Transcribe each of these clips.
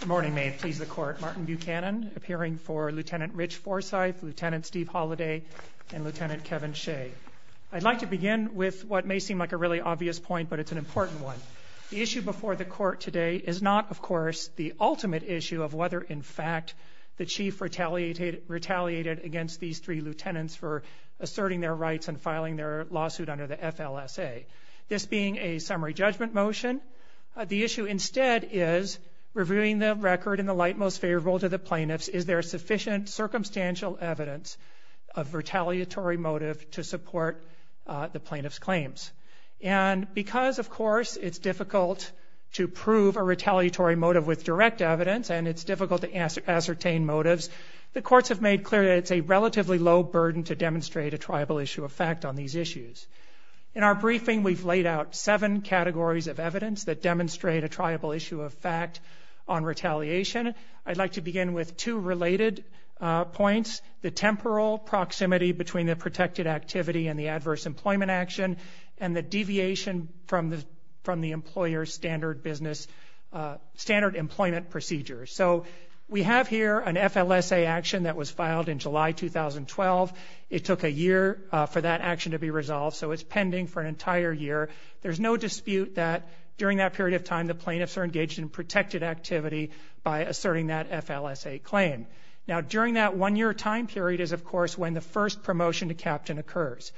Good morning, may it please the Court. Martin Buchanan, appearing for Lt. Rich Forsyth, Lt. Steve Holliday, and Lt. Kevin Shea. I'd like to begin with what may seem like a really obvious point, but it's an important one. The issue before the Court today is not, of course, the ultimate issue of whether, in fact, the Chief retaliated against these three lieutenants for asserting their rights and filing their lawsuit under the FLSA. This being a summary judgment motion, the issue instead is reviewing the record in the light most favorable to the plaintiffs. Is there sufficient circumstantial evidence of retaliatory motive to support the plaintiffs' claims? And because, of course, it's difficult to prove a retaliatory motive with direct evidence and it's difficult to ascertain motives, the courts have made clear that it's a relatively low burden to demonstrate a triable issue of fact on these issues. In our briefing, we've laid out seven categories of evidence that demonstrate a triable issue of fact on retaliation. I'd like to begin with two related points, the temporal proximity between the protected activity and the adverse employment action and the deviation from the employer's standard employment procedures. So we have here an FLSA action that was filed in July 2012. It took a year for that action to be resolved, so it's pending for an entire year. There's no dispute that during that period of time, the plaintiffs are engaged in protected activity by asserting that FLSA claim. Now, during that one-year time period is, of course, when the first promotion to captain occurs,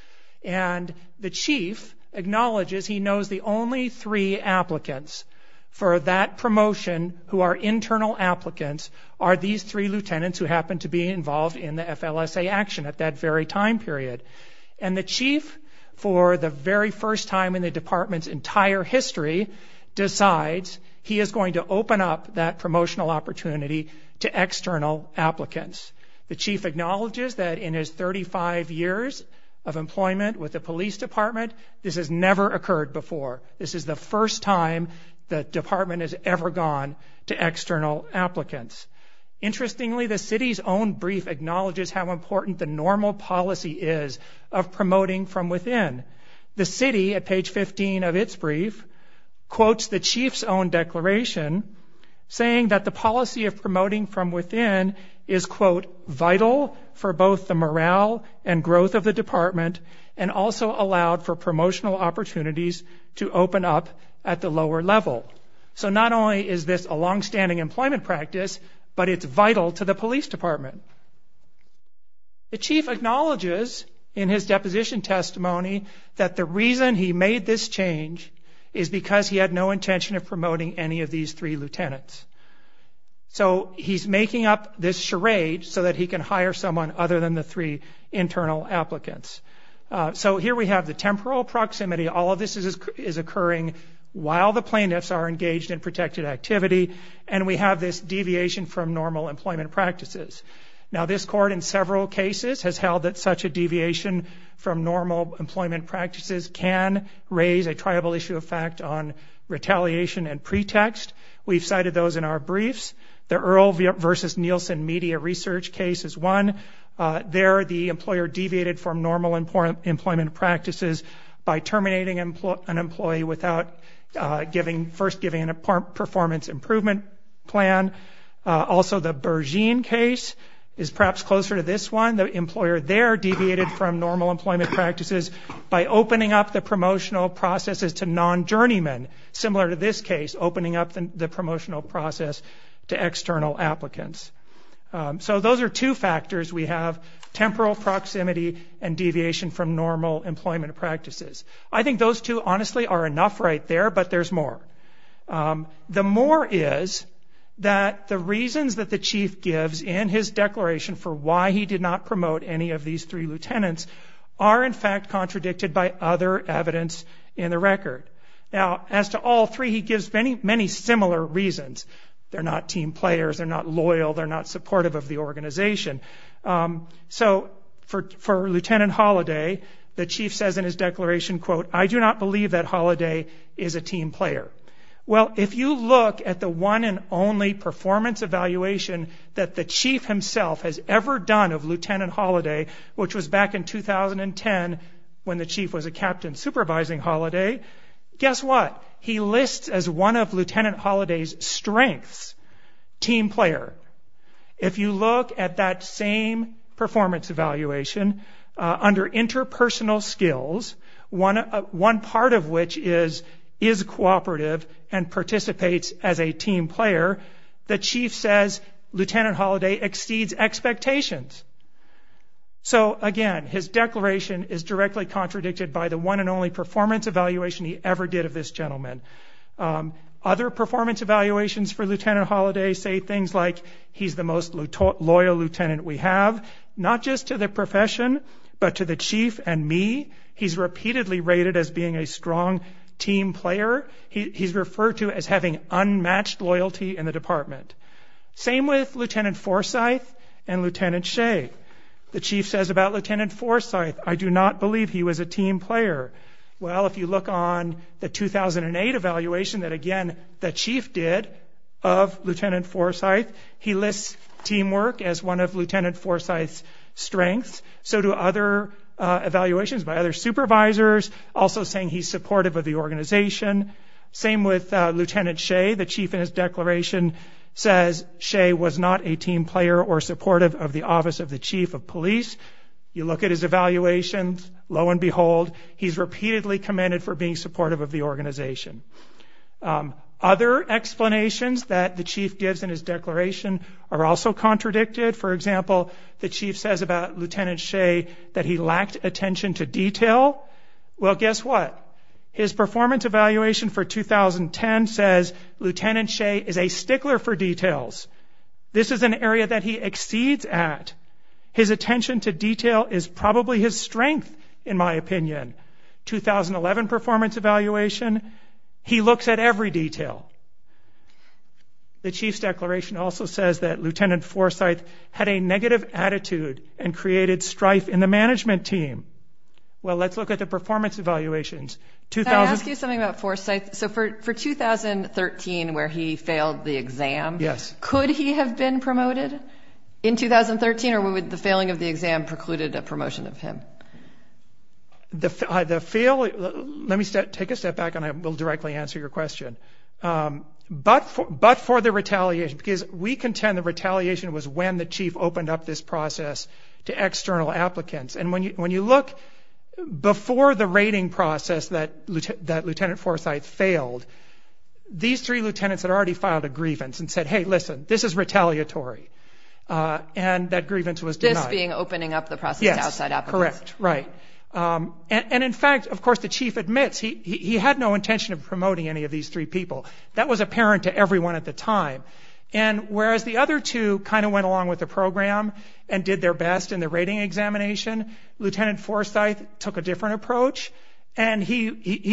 and the chief acknowledges he knows the only three applicants for that promotion who are internal applicants are these three lieutenants who happen to be involved in the FLSA action at that very time period. And the chief, for the very first time in the department's entire history, decides he is going to open up that promotional opportunity to external applicants. The chief acknowledges that in his 35 years of employment with the police department, this has never occurred before. This is the first time the department has ever gone to external applicants. Interestingly, the city's own brief acknowledges how important the normal policy is of promoting from within. The city, at page 15 of its brief, quotes the chief's own declaration, saying that the policy of promoting from within is, quote, vital for both the morale and growth of the department and also allowed for promotional opportunities to open up at the lower level. So not only is this a longstanding employment practice, but it's vital to the police department. The chief acknowledges in his deposition testimony that the reason he made this change is because he had no intention of promoting any of these three lieutenants. So he's making up this charade so that he can hire someone other than the three internal applicants. So here we have the temporal proximity. All of this is occurring while the plaintiffs are engaged in protected activity, and we have this deviation from normal employment practices. Now, this court in several cases has held that such a deviation from normal employment practices can raise a triable issue of fact on retaliation and pretext. We've cited those in our briefs. The Earl v. Nielsen media research case is one. There, the employer deviated from normal employment practices by terminating an employee without first giving a performance improvement plan. Also, the Berzine case is perhaps closer to this one. The employer there deviated from normal employment practices by opening up the promotional processes to non-journeymen, similar to this case, opening up the promotional process to external applicants. So those are two factors we have, temporal proximity and deviation from normal employment practices. I think those two, honestly, are enough right there, but there's more. The more is that the reasons that the chief gives in his declaration for why he did not promote any of these three lieutenants are, in fact, contradicted by other evidence in the record. Now, as to all three, he gives many, many similar reasons. They're not team players, they're not loyal, they're not supportive of the organization. So for Lieutenant Holliday, the chief says in his declaration, quote, I do not believe that Holliday is a team player. Well, if you look at the one and only performance evaluation that the chief himself has ever done of Lieutenant Holliday, which was back in 2010 when the chief was a captain supervising Holliday, guess what? He lists as one of Lieutenant Holliday's strengths, team player. If you look at that same performance evaluation under interpersonal skills, one part of which is cooperative and participates as a team player, the chief says Lieutenant Holliday exceeds expectations. So, again, his declaration is directly contradicted by the one and only performance evaluation he ever did of this gentleman. Other performance evaluations for Lieutenant Holliday say things like he's the most loyal lieutenant we have, not just to the profession, but to the chief and me. He's repeatedly rated as being a strong team player. He's referred to as having unmatched loyalty in the department. Same with Lieutenant Forsythe and Lieutenant Shea. The chief says about Lieutenant Forsythe, I do not believe he was a team player. Well, if you look on the 2008 evaluation that, again, the chief did of Lieutenant Forsythe, he lists teamwork as one of Lieutenant Forsythe's strengths. So do other evaluations by other supervisors, also saying he's supportive of the organization. Same with Lieutenant Shea. The chief in his declaration says Shea was not a team player or supportive of the office of the chief of police. You look at his evaluations. Lo and behold, he's repeatedly commended for being supportive of the organization. Other explanations that the chief gives in his declaration are also contradicted. For example, the chief says about Lieutenant Shea that he lacked attention to detail. Well, guess what? His performance evaluation for 2010 says Lieutenant Shea is a stickler for details. This is an area that he exceeds at. His attention to detail is probably his strength, in my opinion. 2011 performance evaluation, he looks at every detail. The chief's declaration also says that Lieutenant Forsythe had a negative attitude and created strife in the management team. Well, let's look at the performance evaluations. Can I ask you something about Forsythe? So for 2013, where he failed the exam, could he have been promoted in 2013, or would the failing of the exam precluded a promotion of him? Let me take a step back and I will directly answer your question. But for the retaliation, because we contend the retaliation was when the chief opened up this process to external applicants. And when you look before the rating process that Lieutenant Forsythe failed, these three lieutenants had already filed a grievance and said, hey, listen, this is retaliatory. And that grievance was denied. This being opening up the process to outside applicants. Yes, correct, right. And in fact, of course, the chief admits he had no intention of promoting any of these three people. That was apparent to everyone at the time. And whereas the other two kind of went along with the program and did their best in the rating examination, Lieutenant Forsythe took a different approach and he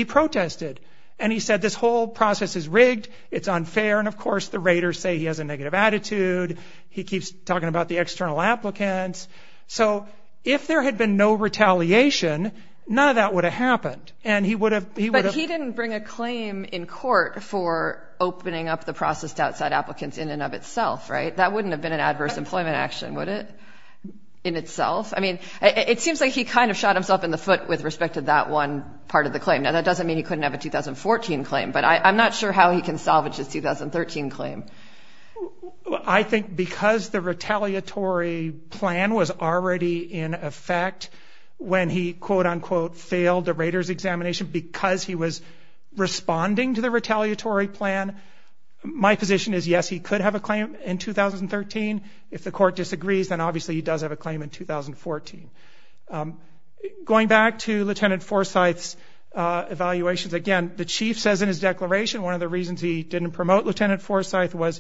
protested and he said this whole process is rigged, it's unfair, and of course the raters say he has a negative attitude, he keeps talking about the external applicants. So if there had been no retaliation, none of that would have happened. But he didn't bring a claim in court for opening up the process to outside applicants in and of itself, right? That wouldn't have been an adverse employment action, would it, in itself? I mean, it seems like he kind of shot himself in the foot with respect to that one part of the claim. Now, that doesn't mean he couldn't have a 2014 claim, but I'm not sure how he can salvage his 2013 claim. I think because the retaliatory plan was already in effect when he, quote-unquote, failed the raters' examination, because he was responding to the retaliatory plan, my position is yes, he could have a claim in 2013. If the court disagrees, then obviously he does have a claim in 2014. Going back to Lieutenant Forsythe's evaluations, again, the chief says in his declaration one of the reasons he didn't promote Lieutenant Forsythe was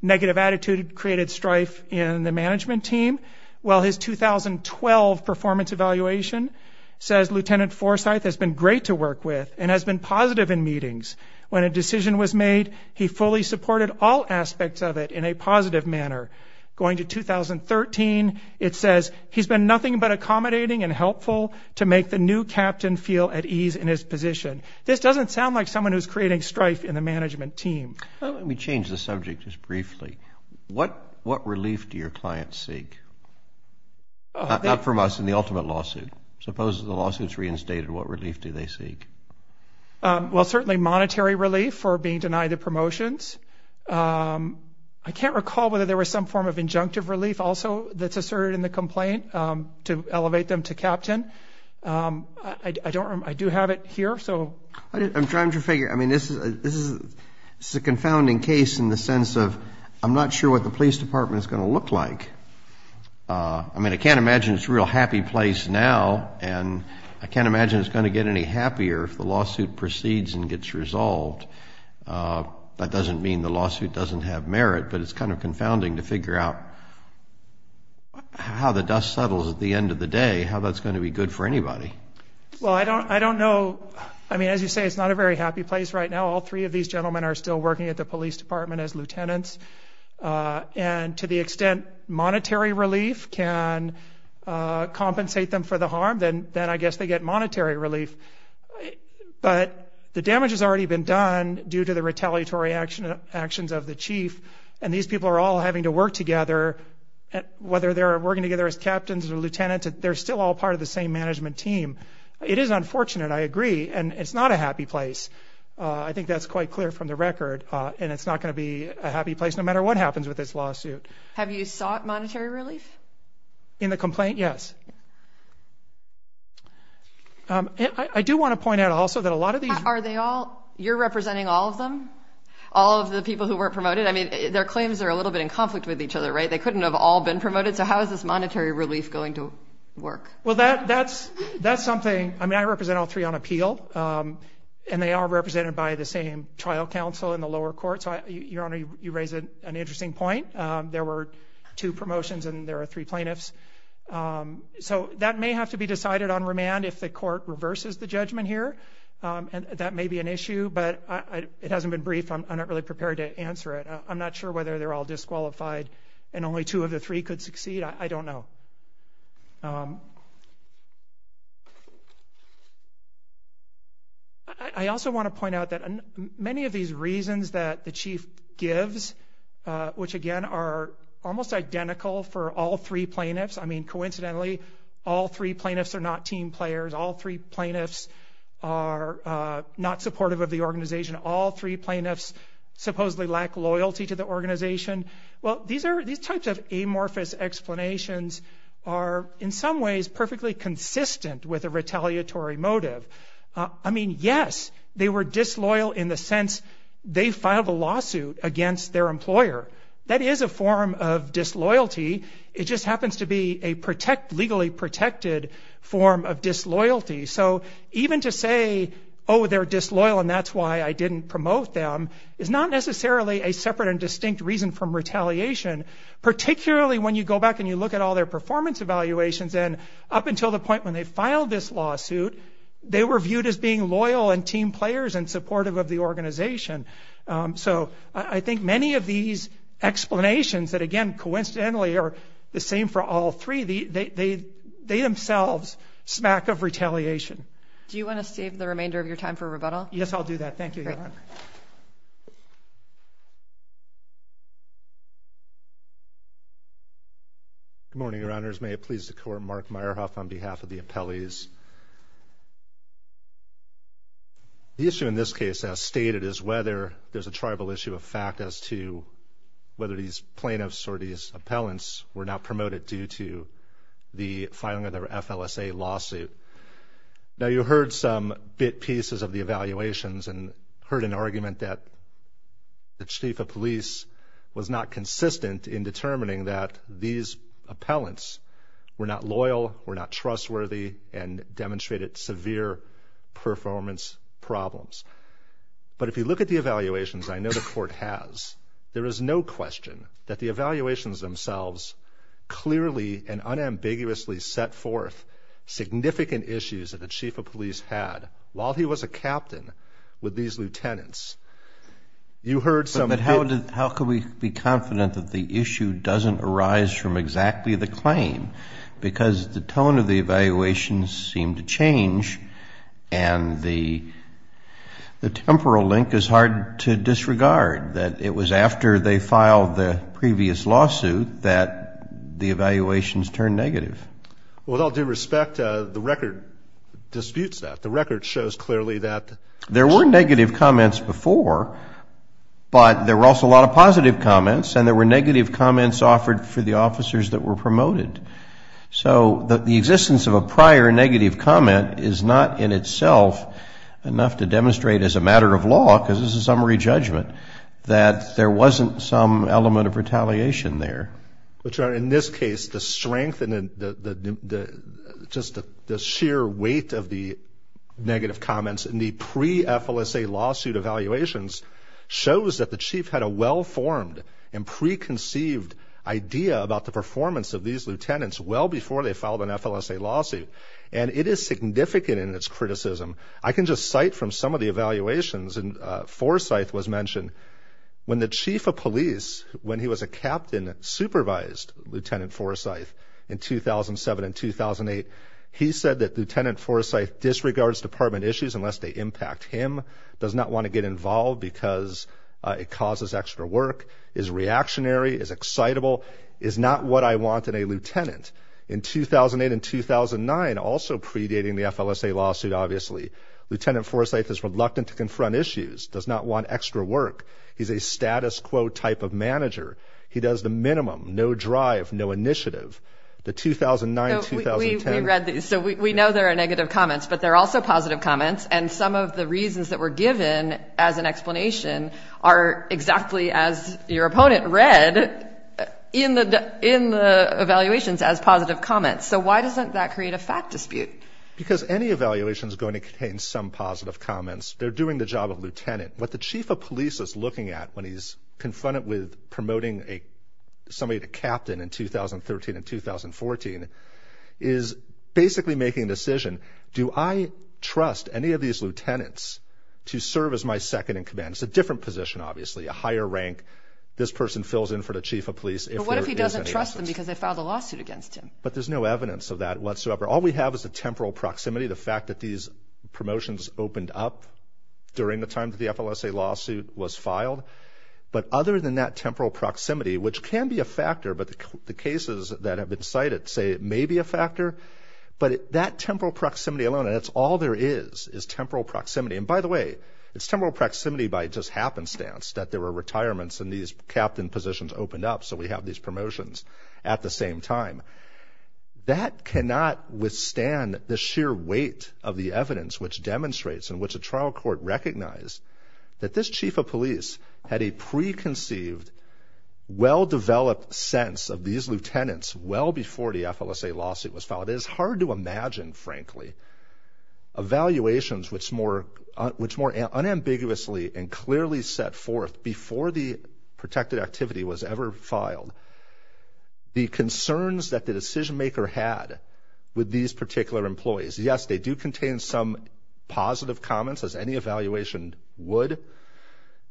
negative attitude created strife in the management team. Well, his 2012 performance evaluation says, Lieutenant Forsythe has been great to work with and has been positive in meetings. When a decision was made, he fully supported all aspects of it in a positive manner. Going to 2013, it says, he's been nothing but accommodating and helpful to make the new captain feel at ease in his position. This doesn't sound like someone who's creating strife in the management team. Let me change the subject just briefly. What relief do your clients seek? Not from us in the ultimate lawsuit. Suppose the lawsuit's reinstated, what relief do they seek? Well, certainly monetary relief for being denied the promotions. I can't recall whether there was some form of injunctive relief also that's asserted in the complaint to elevate them to captain. I do have it here. I'm trying to figure. I mean, this is a confounding case in the sense of I'm not sure what the police department is going to look like. I mean, I can't imagine it's a real happy place now, and I can't imagine it's going to get any happier if the lawsuit proceeds and gets resolved. That doesn't mean the lawsuit doesn't have merit, but it's kind of confounding to figure out how the dust settles at the end of the day, how that's going to be good for anybody. Well, I don't know. I mean, as you say, it's not a very happy place right now. All three of these gentlemen are still working at the police department as lieutenants, and to the extent monetary relief can compensate them for the harm, then I guess they get monetary relief. But the damage has already been done due to the retaliatory actions of the chief, and these people are all having to work together, whether they're working together as captains or lieutenants. They're still all part of the same management team. It is unfortunate, I agree, and it's not a happy place. I think that's quite clear from the record, and it's not going to be a happy place no matter what happens with this lawsuit. Have you sought monetary relief? In the complaint, yes. I do want to point out also that a lot of these – Are they all – you're representing all of them, all of the people who weren't promoted? I mean, their claims are a little bit in conflict with each other, right? They couldn't have all been promoted, so how is this monetary relief going to work? Well, that's something – I mean, I represent all three on appeal, and they are represented by the same trial counsel in the lower court. So, Your Honor, you raise an interesting point. There were two promotions, and there are three plaintiffs. So that may have to be decided on remand if the court reverses the judgment here, and that may be an issue, but it hasn't been briefed. I'm not really prepared to answer it. I'm not sure whether they're all disqualified and only two of the three could succeed. I don't know. I also want to point out that many of these reasons that the chief gives, which, again, are almost identical for all three plaintiffs – I mean, coincidentally, all three plaintiffs are not team players. All three plaintiffs are not supportive of the organization. All three plaintiffs supposedly lack loyalty to the organization. Well, these types of amorphous explanations are, in some ways, perfectly consistent with a retaliatory motive. I mean, yes, they were disloyal in the sense they filed a lawsuit against their employer. That is a form of disloyalty. It just happens to be a legally protected form of disloyalty. So even to say, oh, they're disloyal and that's why I didn't promote them, is not necessarily a separate and distinct reason for retaliation, particularly when you go back and you look at all their performance evaluations, and up until the point when they filed this lawsuit, they were viewed as being loyal and team players and supportive of the organization. So I think many of these explanations that, again, coincidentally are the same for all three, they themselves smack of retaliation. Do you want to save the remainder of your time for rebuttal? Yes, I'll do that. Thank you, Your Honor. Good morning, Your Honors. May it please the Court, Mark Meyerhoff on behalf of the appellees. The issue in this case, as stated, is whether there's a tribal issue of fact as to whether these plaintiffs or these appellants were not promoted due to the filing of their FLSA lawsuit. Now, you heard some bit pieces of the evaluations and heard an argument that the Chief of Police was not consistent in determining that these appellants were not loyal, were not trustworthy, and demonstrated severe performance problems. But if you look at the evaluations, I know the Court has, there is no question that the evaluations themselves clearly and unambiguously set forth significant issues that the Chief of Police had while he was a captain with these lieutenants. You heard some of it. But how could we be confident that the issue doesn't arise from exactly the claim? Because the tone of the evaluations seemed to change and the temporal link is hard to disregard, that it was after they filed the previous lawsuit that the evaluations turned negative. Well, with all due respect, the record disputes that. The record shows clearly that. There were negative comments before, but there were also a lot of positive comments and there were negative comments offered for the officers that were promoted. So the existence of a prior negative comment is not in itself enough to demonstrate, as a matter of law, because this is a summary judgment, that there wasn't some element of retaliation there. But, Your Honor, in this case, the strength and just the sheer weight of the negative comments in the pre-FLSA lawsuit evaluations shows that the Chief had a well-formed and preconceived idea about the performance of these lieutenants well before they filed an FLSA lawsuit. And it is significant in its criticism. I can just cite from some of the evaluations, and Forsyth was mentioned, when the Chief of Police, when he was a captain, supervised Lieutenant Forsyth in 2007 and 2008, he said that Lieutenant Forsyth disregards department issues unless they impact him, does not want to get involved because it causes extra work, is reactionary, is excitable, is not what I want in a lieutenant. In 2008 and 2009, also predating the FLSA lawsuit, obviously, Lieutenant Forsyth is reluctant to confront issues, does not want extra work. He's a status quo type of manager. He does the minimum, no drive, no initiative. The 2009, 2010. We read these, so we know there are negative comments, but there are also positive comments, and some of the reasons that were given as an explanation are exactly as your opponent read in the evaluations as positive comments. So why doesn't that create a fact dispute? Because any evaluation is going to contain some positive comments. They're doing the job of lieutenant. What the Chief of Police is looking at when he's confronted with promoting somebody to captain in 2013 and 2014 is basically making a decision, do I trust any of these lieutenants to serve as my second-in-command? It's a different position, obviously, a higher rank. This person fills in for the Chief of Police. But what if he doesn't trust them because they filed a lawsuit against him? But there's no evidence of that whatsoever. All we have is a temporal proximity, the fact that these promotions opened up during the time that the FLSA lawsuit was filed. But other than that temporal proximity, which can be a factor, but the cases that have been cited say it may be a factor, but that temporal proximity alone, and that's all there is, is temporal proximity. And by the way, it's temporal proximity by just happenstance that there were retirements and these captain positions opened up, so we have these promotions at the same time. That cannot withstand the sheer weight of the evidence which demonstrates and which a trial court recognized that this Chief of Police had a preconceived, well-developed sense of these lieutenants well before the FLSA lawsuit was filed. It is hard to imagine, frankly, evaluations which more unambiguously and clearly set forth before the protected activity was ever filed the concerns that the decision-maker had with these particular employees. Yes, they do contain some positive comments, as any evaluation would,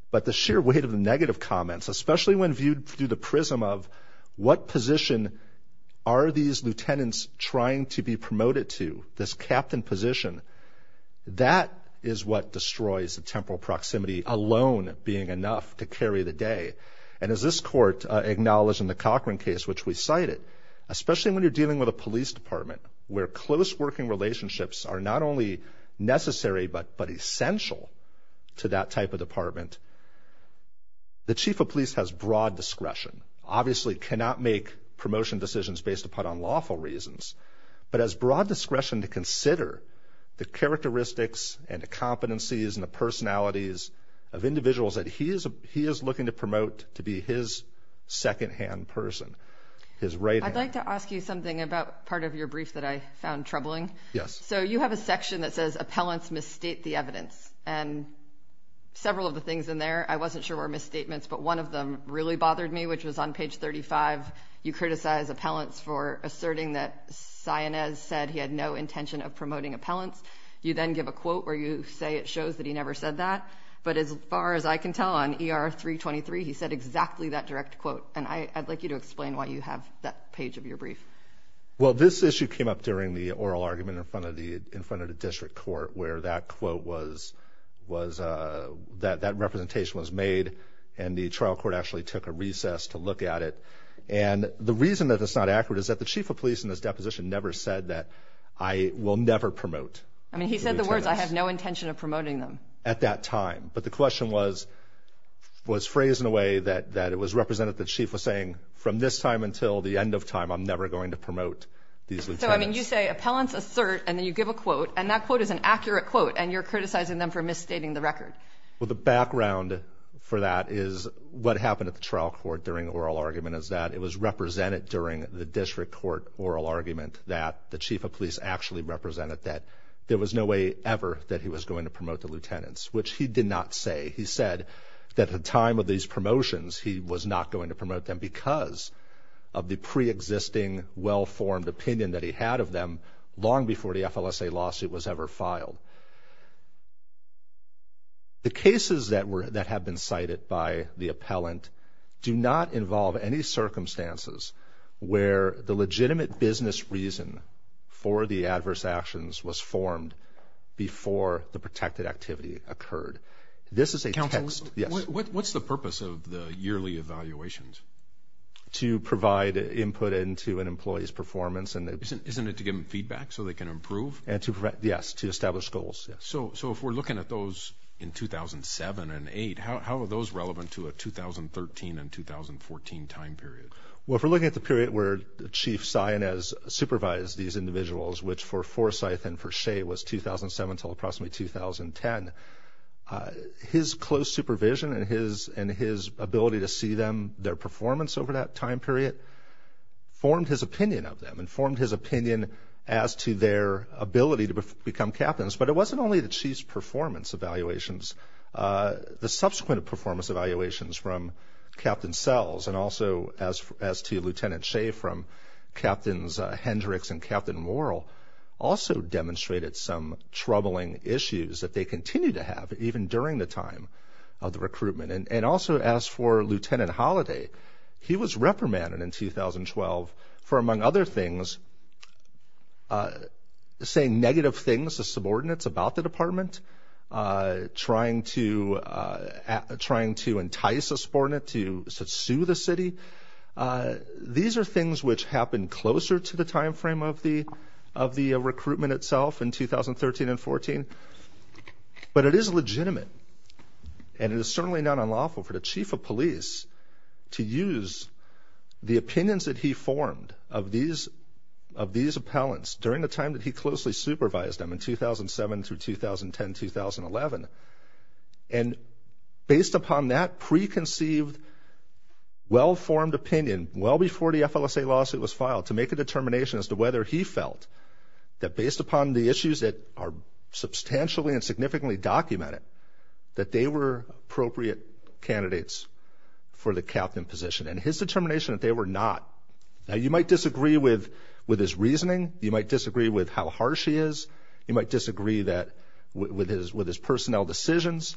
but the sheer weight of the negative comments, especially when viewed through the prism of what position are these lieutenants trying to be promoted to, this captain position, that is what destroys the temporal proximity alone being enough to carry the day. And as this court acknowledged in the Cochran case, which we cited, especially when you're dealing with a police department where close working relationships are not only necessary but essential to that type of department, the Chief of Police has broad discretion. Obviously cannot make promotion decisions based upon unlawful reasons, but has broad discretion to consider the characteristics and the competencies and the personalities of individuals that he is looking to promote to be his secondhand person, his right hand. I'd like to ask you something about part of your brief that I found troubling. Yes. So you have a section that says appellants misstate the evidence, and several of the things in there I wasn't sure were misstatements, but one of them really bothered me, which was on page 35. You criticize appellants for asserting that Sionez said he had no intention of promoting appellants. You then give a quote where you say it shows that he never said that, but as far as I can tell on ER-323, he said exactly that direct quote, and I'd like you to explain why you have that page of your brief. Well, this issue came up during the oral argument in front of the district court where that quote was, that representation was made, and the trial court actually took a recess to look at it. And the reason that it's not accurate is that the chief of police in this deposition never said that I will never promote the lieutenants. I mean, he said the words, I have no intention of promoting them. At that time. But the question was phrased in a way that it was represented that the chief was saying from this time until the end of time, I'm never going to promote these lieutenants. So, I mean, you say appellants assert, and then you give a quote, and that quote is an accurate quote, and you're criticizing them for misstating the record. Well, the background for that is what happened at the trial court during the oral argument is that it was represented during the district court oral argument that the chief of police actually represented that there was no way ever that he was going to promote the lieutenants, which he did not say. He said that at the time of these promotions, he was not going to promote them because of the preexisting well-formed opinion that he had of them long before the FLSA lawsuit was ever filed. The cases that have been cited by the appellant do not involve any circumstances where the legitimate business reason for the adverse actions was formed before the protected activity occurred. This is a text. What's the purpose of the yearly evaluations? To provide input into an employee's performance. Isn't it to give them feedback so they can improve? Yes, to establish goals. So if we're looking at those in 2007 and 2008, how are those relevant to a 2013 and 2014 time period? Well, if we're looking at the period where Chief Sainez supervised these individuals, which for Forsyth and for Shea was 2007 until approximately 2010, his close supervision and his ability to see them, their performance over that time period formed his opinion of them and formed his opinion as to their ability to become captains. But it wasn't only the chief's performance evaluations. The subsequent performance evaluations from Captain Sells and also as to Lieutenant Shea from Captains Hendricks and Captain Morrill also demonstrated some troubling issues that they continue to have, even during the time of the recruitment. And also as for Lieutenant Holiday, he was reprimanded in 2012 for, among other things, saying negative things to subordinates about the department, trying to entice a subordinate to sue the city. These are things which happen closer to the time frame of the recruitment itself in 2013 and 2014. But it is legitimate and it is certainly not unlawful for the chief of police to use the opinions that he formed of these appellants during the time that he closely supervised them in 2007 through 2010, 2011. And based upon that preconceived, well-formed opinion, well before the FLSA lawsuit was filed, to make a determination as to whether he felt that based upon the issues that are substantially and significantly documented, that they were appropriate candidates for the captain position and his determination that they were not. Now you might disagree with his reasoning. You might disagree with how harsh he is. You might disagree with his personnel decisions.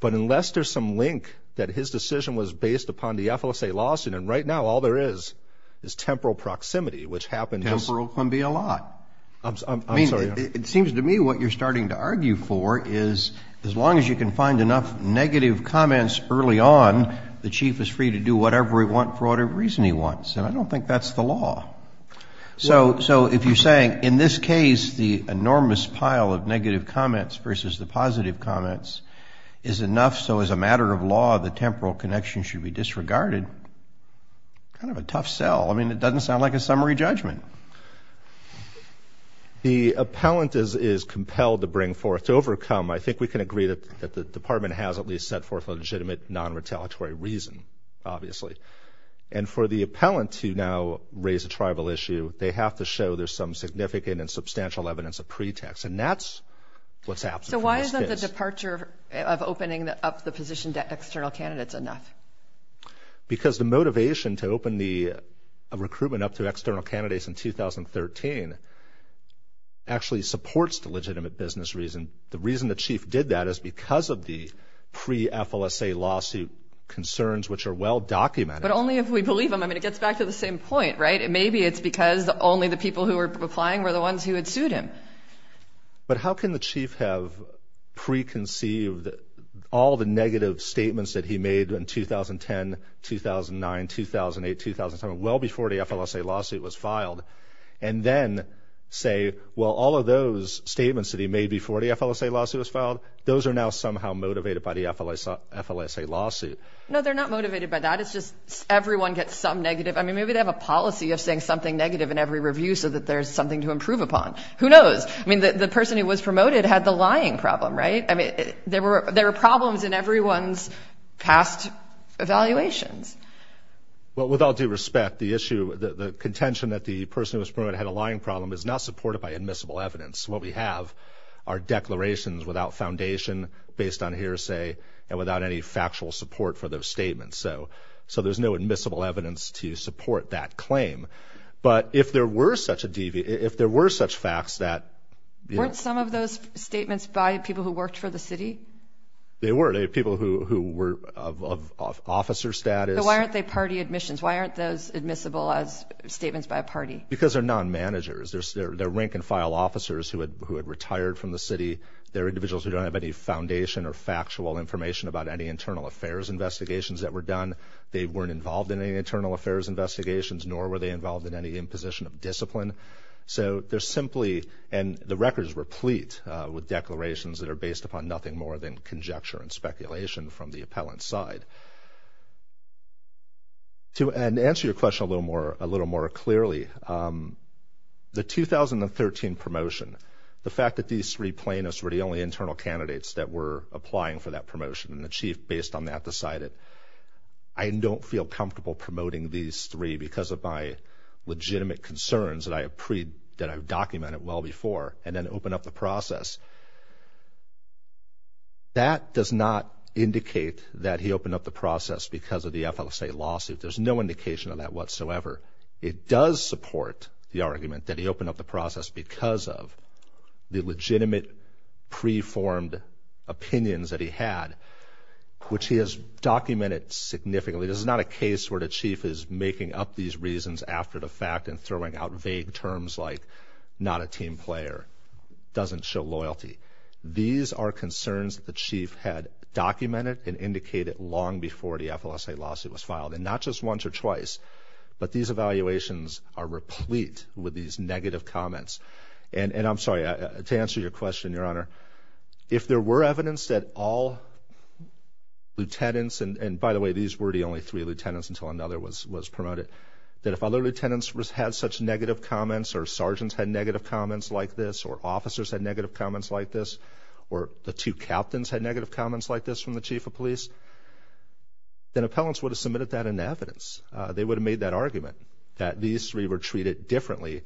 But unless there's some link that his decision was based upon the FLSA lawsuit, and right now all there is is temporal proximity, which happens. Temporal can be a lot. I'm sorry. It seems to me what you're starting to argue for is as long as you can find enough negative comments early on, the chief is free to do whatever he wants for whatever reason he wants. And I don't think that's the law. So if you're saying in this case the enormous pile of negative comments versus the positive comments is enough so as a matter of law the temporal connection should be disregarded, kind of a tough sell. I mean it doesn't sound like a summary judgment. The appellant is compelled to bring forth, to overcome. I think we can agree that the department has at least set forth a legitimate non-retaliatory reason, obviously. And for the appellant to now raise a tribal issue, they have to show there's some significant and substantial evidence of pretext. And that's what's happened in this case. So why isn't the departure of opening up the position to external candidates enough? Because the motivation to open the recruitment up to external candidates in this case in 2013 actually supports the legitimate business reason. The reason the chief did that is because of the pre-FLSA lawsuit concerns which are well documented. But only if we believe them. I mean it gets back to the same point, right? Maybe it's because only the people who were applying were the ones who had sued him. But how can the chief have preconceived all the negative statements that he made in 2010, 2009, 2008, 2007, well before the FLSA lawsuit was filed, and then say, well, all of those statements that he made before the FLSA lawsuit was filed, those are now somehow motivated by the FLSA lawsuit. No, they're not motivated by that. It's just everyone gets some negative. I mean maybe they have a policy of saying something negative in every review so that there's something to improve upon. Who knows? I mean the person who was promoted had the lying problem, right? There were problems in everyone's past evaluations. Well, with all due respect, the issue, the contention that the person who was promoted had a lying problem is not supported by admissible evidence. What we have are declarations without foundation based on hearsay and without any factual support for those statements. So there's no admissible evidence to support that claim. But if there were such facts that, you know. Were some of those statements by people who worked for the city? They were. They were people who were of officer status. So why aren't they party admissions? Why aren't those admissible as statements by a party? Because they're non-managers. They're rank-and-file officers who had retired from the city. They're individuals who don't have any foundation or factual information about any internal affairs investigations that were done. They weren't involved in any internal affairs investigations, nor were they involved in any imposition of discipline. So they're simply, and the record is replete with declarations that are based upon nothing more than conjecture and speculation from the appellant's side. To answer your question a little more clearly, the 2013 promotion, the fact that these three plaintiffs were the only internal candidates that were applying for that promotion, and the chief based on that decided, I don't feel comfortable promoting these three because of my legitimate concerns that I've documented well before and then opened up the process, that does not indicate that he opened up the process because of the FLSA lawsuit. There's no indication of that whatsoever. It does support the argument that he opened up the process because of the legitimate, pre-formed opinions that he had, which he has documented significantly. This is not a case where the chief is making up these reasons after the fact and throwing out vague terms like not a team player, doesn't show loyalty. These are concerns that the chief had documented and indicated long before the FLSA lawsuit was filed, and not just once or twice, but these evaluations are replete with these negative comments. And I'm sorry, to answer your question, Your Honor, if there were evidence that all lieutenants, and by the way, these were the only three lieutenants until another was promoted, that if other lieutenants had such negative comments or sergeants had negative comments like this or officers had negative comments like this or the two captains had negative comments like this from the chief of police, then appellants would have submitted that in evidence. They would have made that argument that these three were treated differently,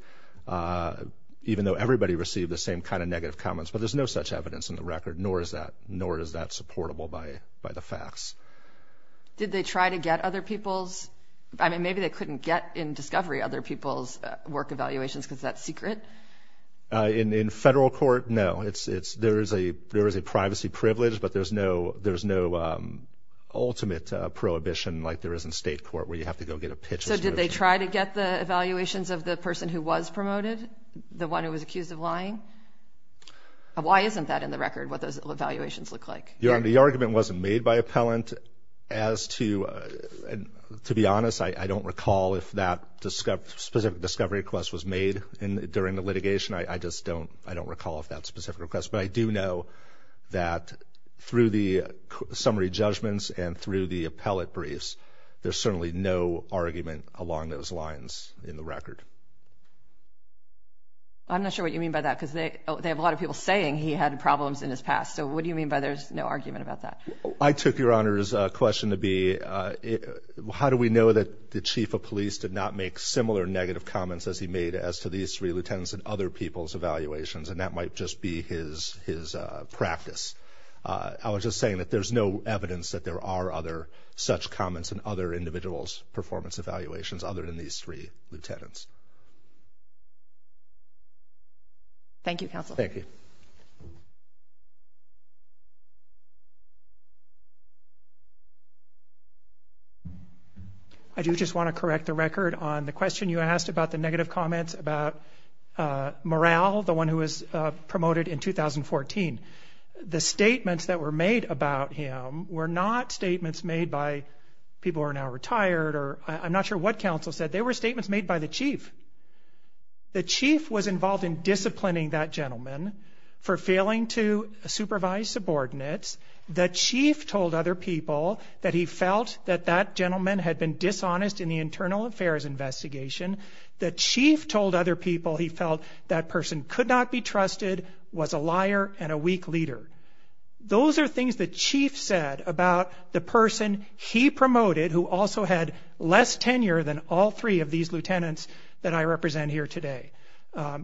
even though everybody received the same kind of negative comments. But there's no such evidence in the record, nor is that supportable by the facts. Did they try to get other people's? I mean, maybe they couldn't get in discovery other people's work evaluations because that's secret. In federal court, no. There is a privacy privilege, but there's no ultimate prohibition like there is in state court where you have to go get a pitch. So did they try to get the evaluations of the person who was promoted, the one who was accused of lying? Why isn't that in the record, what those evaluations look like? The argument wasn't made by appellant as to, to be honest, I don't recall if that specific discovery request was made during the litigation. I just don't recall if that specific request, but I do know that through the summary judgments and through the appellate briefs, there's certainly no argument along those lines in the record. I'm not sure what you mean by that because they have a lot of people saying he had problems in his past. So what do you mean by there's no argument about that? I took Your Honor's question to be, how do we know that the chief of police did not make similar negative comments as he made as to these three lieutenants and other people's evaluations? And that might just be his practice. I was just saying that there's no evidence that there are other such comments in other individuals' performance evaluations other than these three lieutenants. Thank you, counsel. Thank you. I do just want to correct the record on the question you asked about the negative comments about Morrell, the one who was promoted in 2014. The statements that were made about him were not statements made by people who are now retired or I'm not sure what counsel said. They were statements made by the chief. The chief was involved in disciplining that gentleman for failing to supervise subordinates. The chief told other people that he felt that that gentleman had been dishonest in the internal affairs investigation. The chief told other people he felt that person could not be trusted, was a liar, and a weak leader. Those are things the chief said about the person he promoted, who also had less tenure than all three of these lieutenants that I represent here today.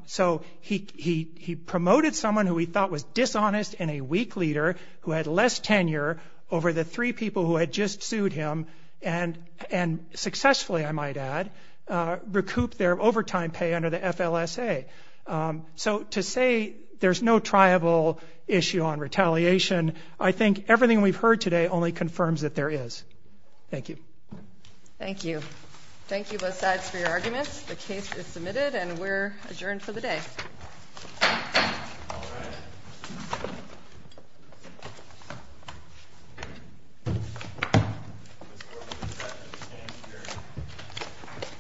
So he promoted someone who he thought was dishonest and a weak leader, who had less tenure over the three people who had just sued him and successfully, I might add, recouped their overtime pay under the FLSA. So to say there's no triable issue on retaliation, I think everything we've heard today only confirms that there is. Thank you. Thank you. Thank you both sides for your arguments.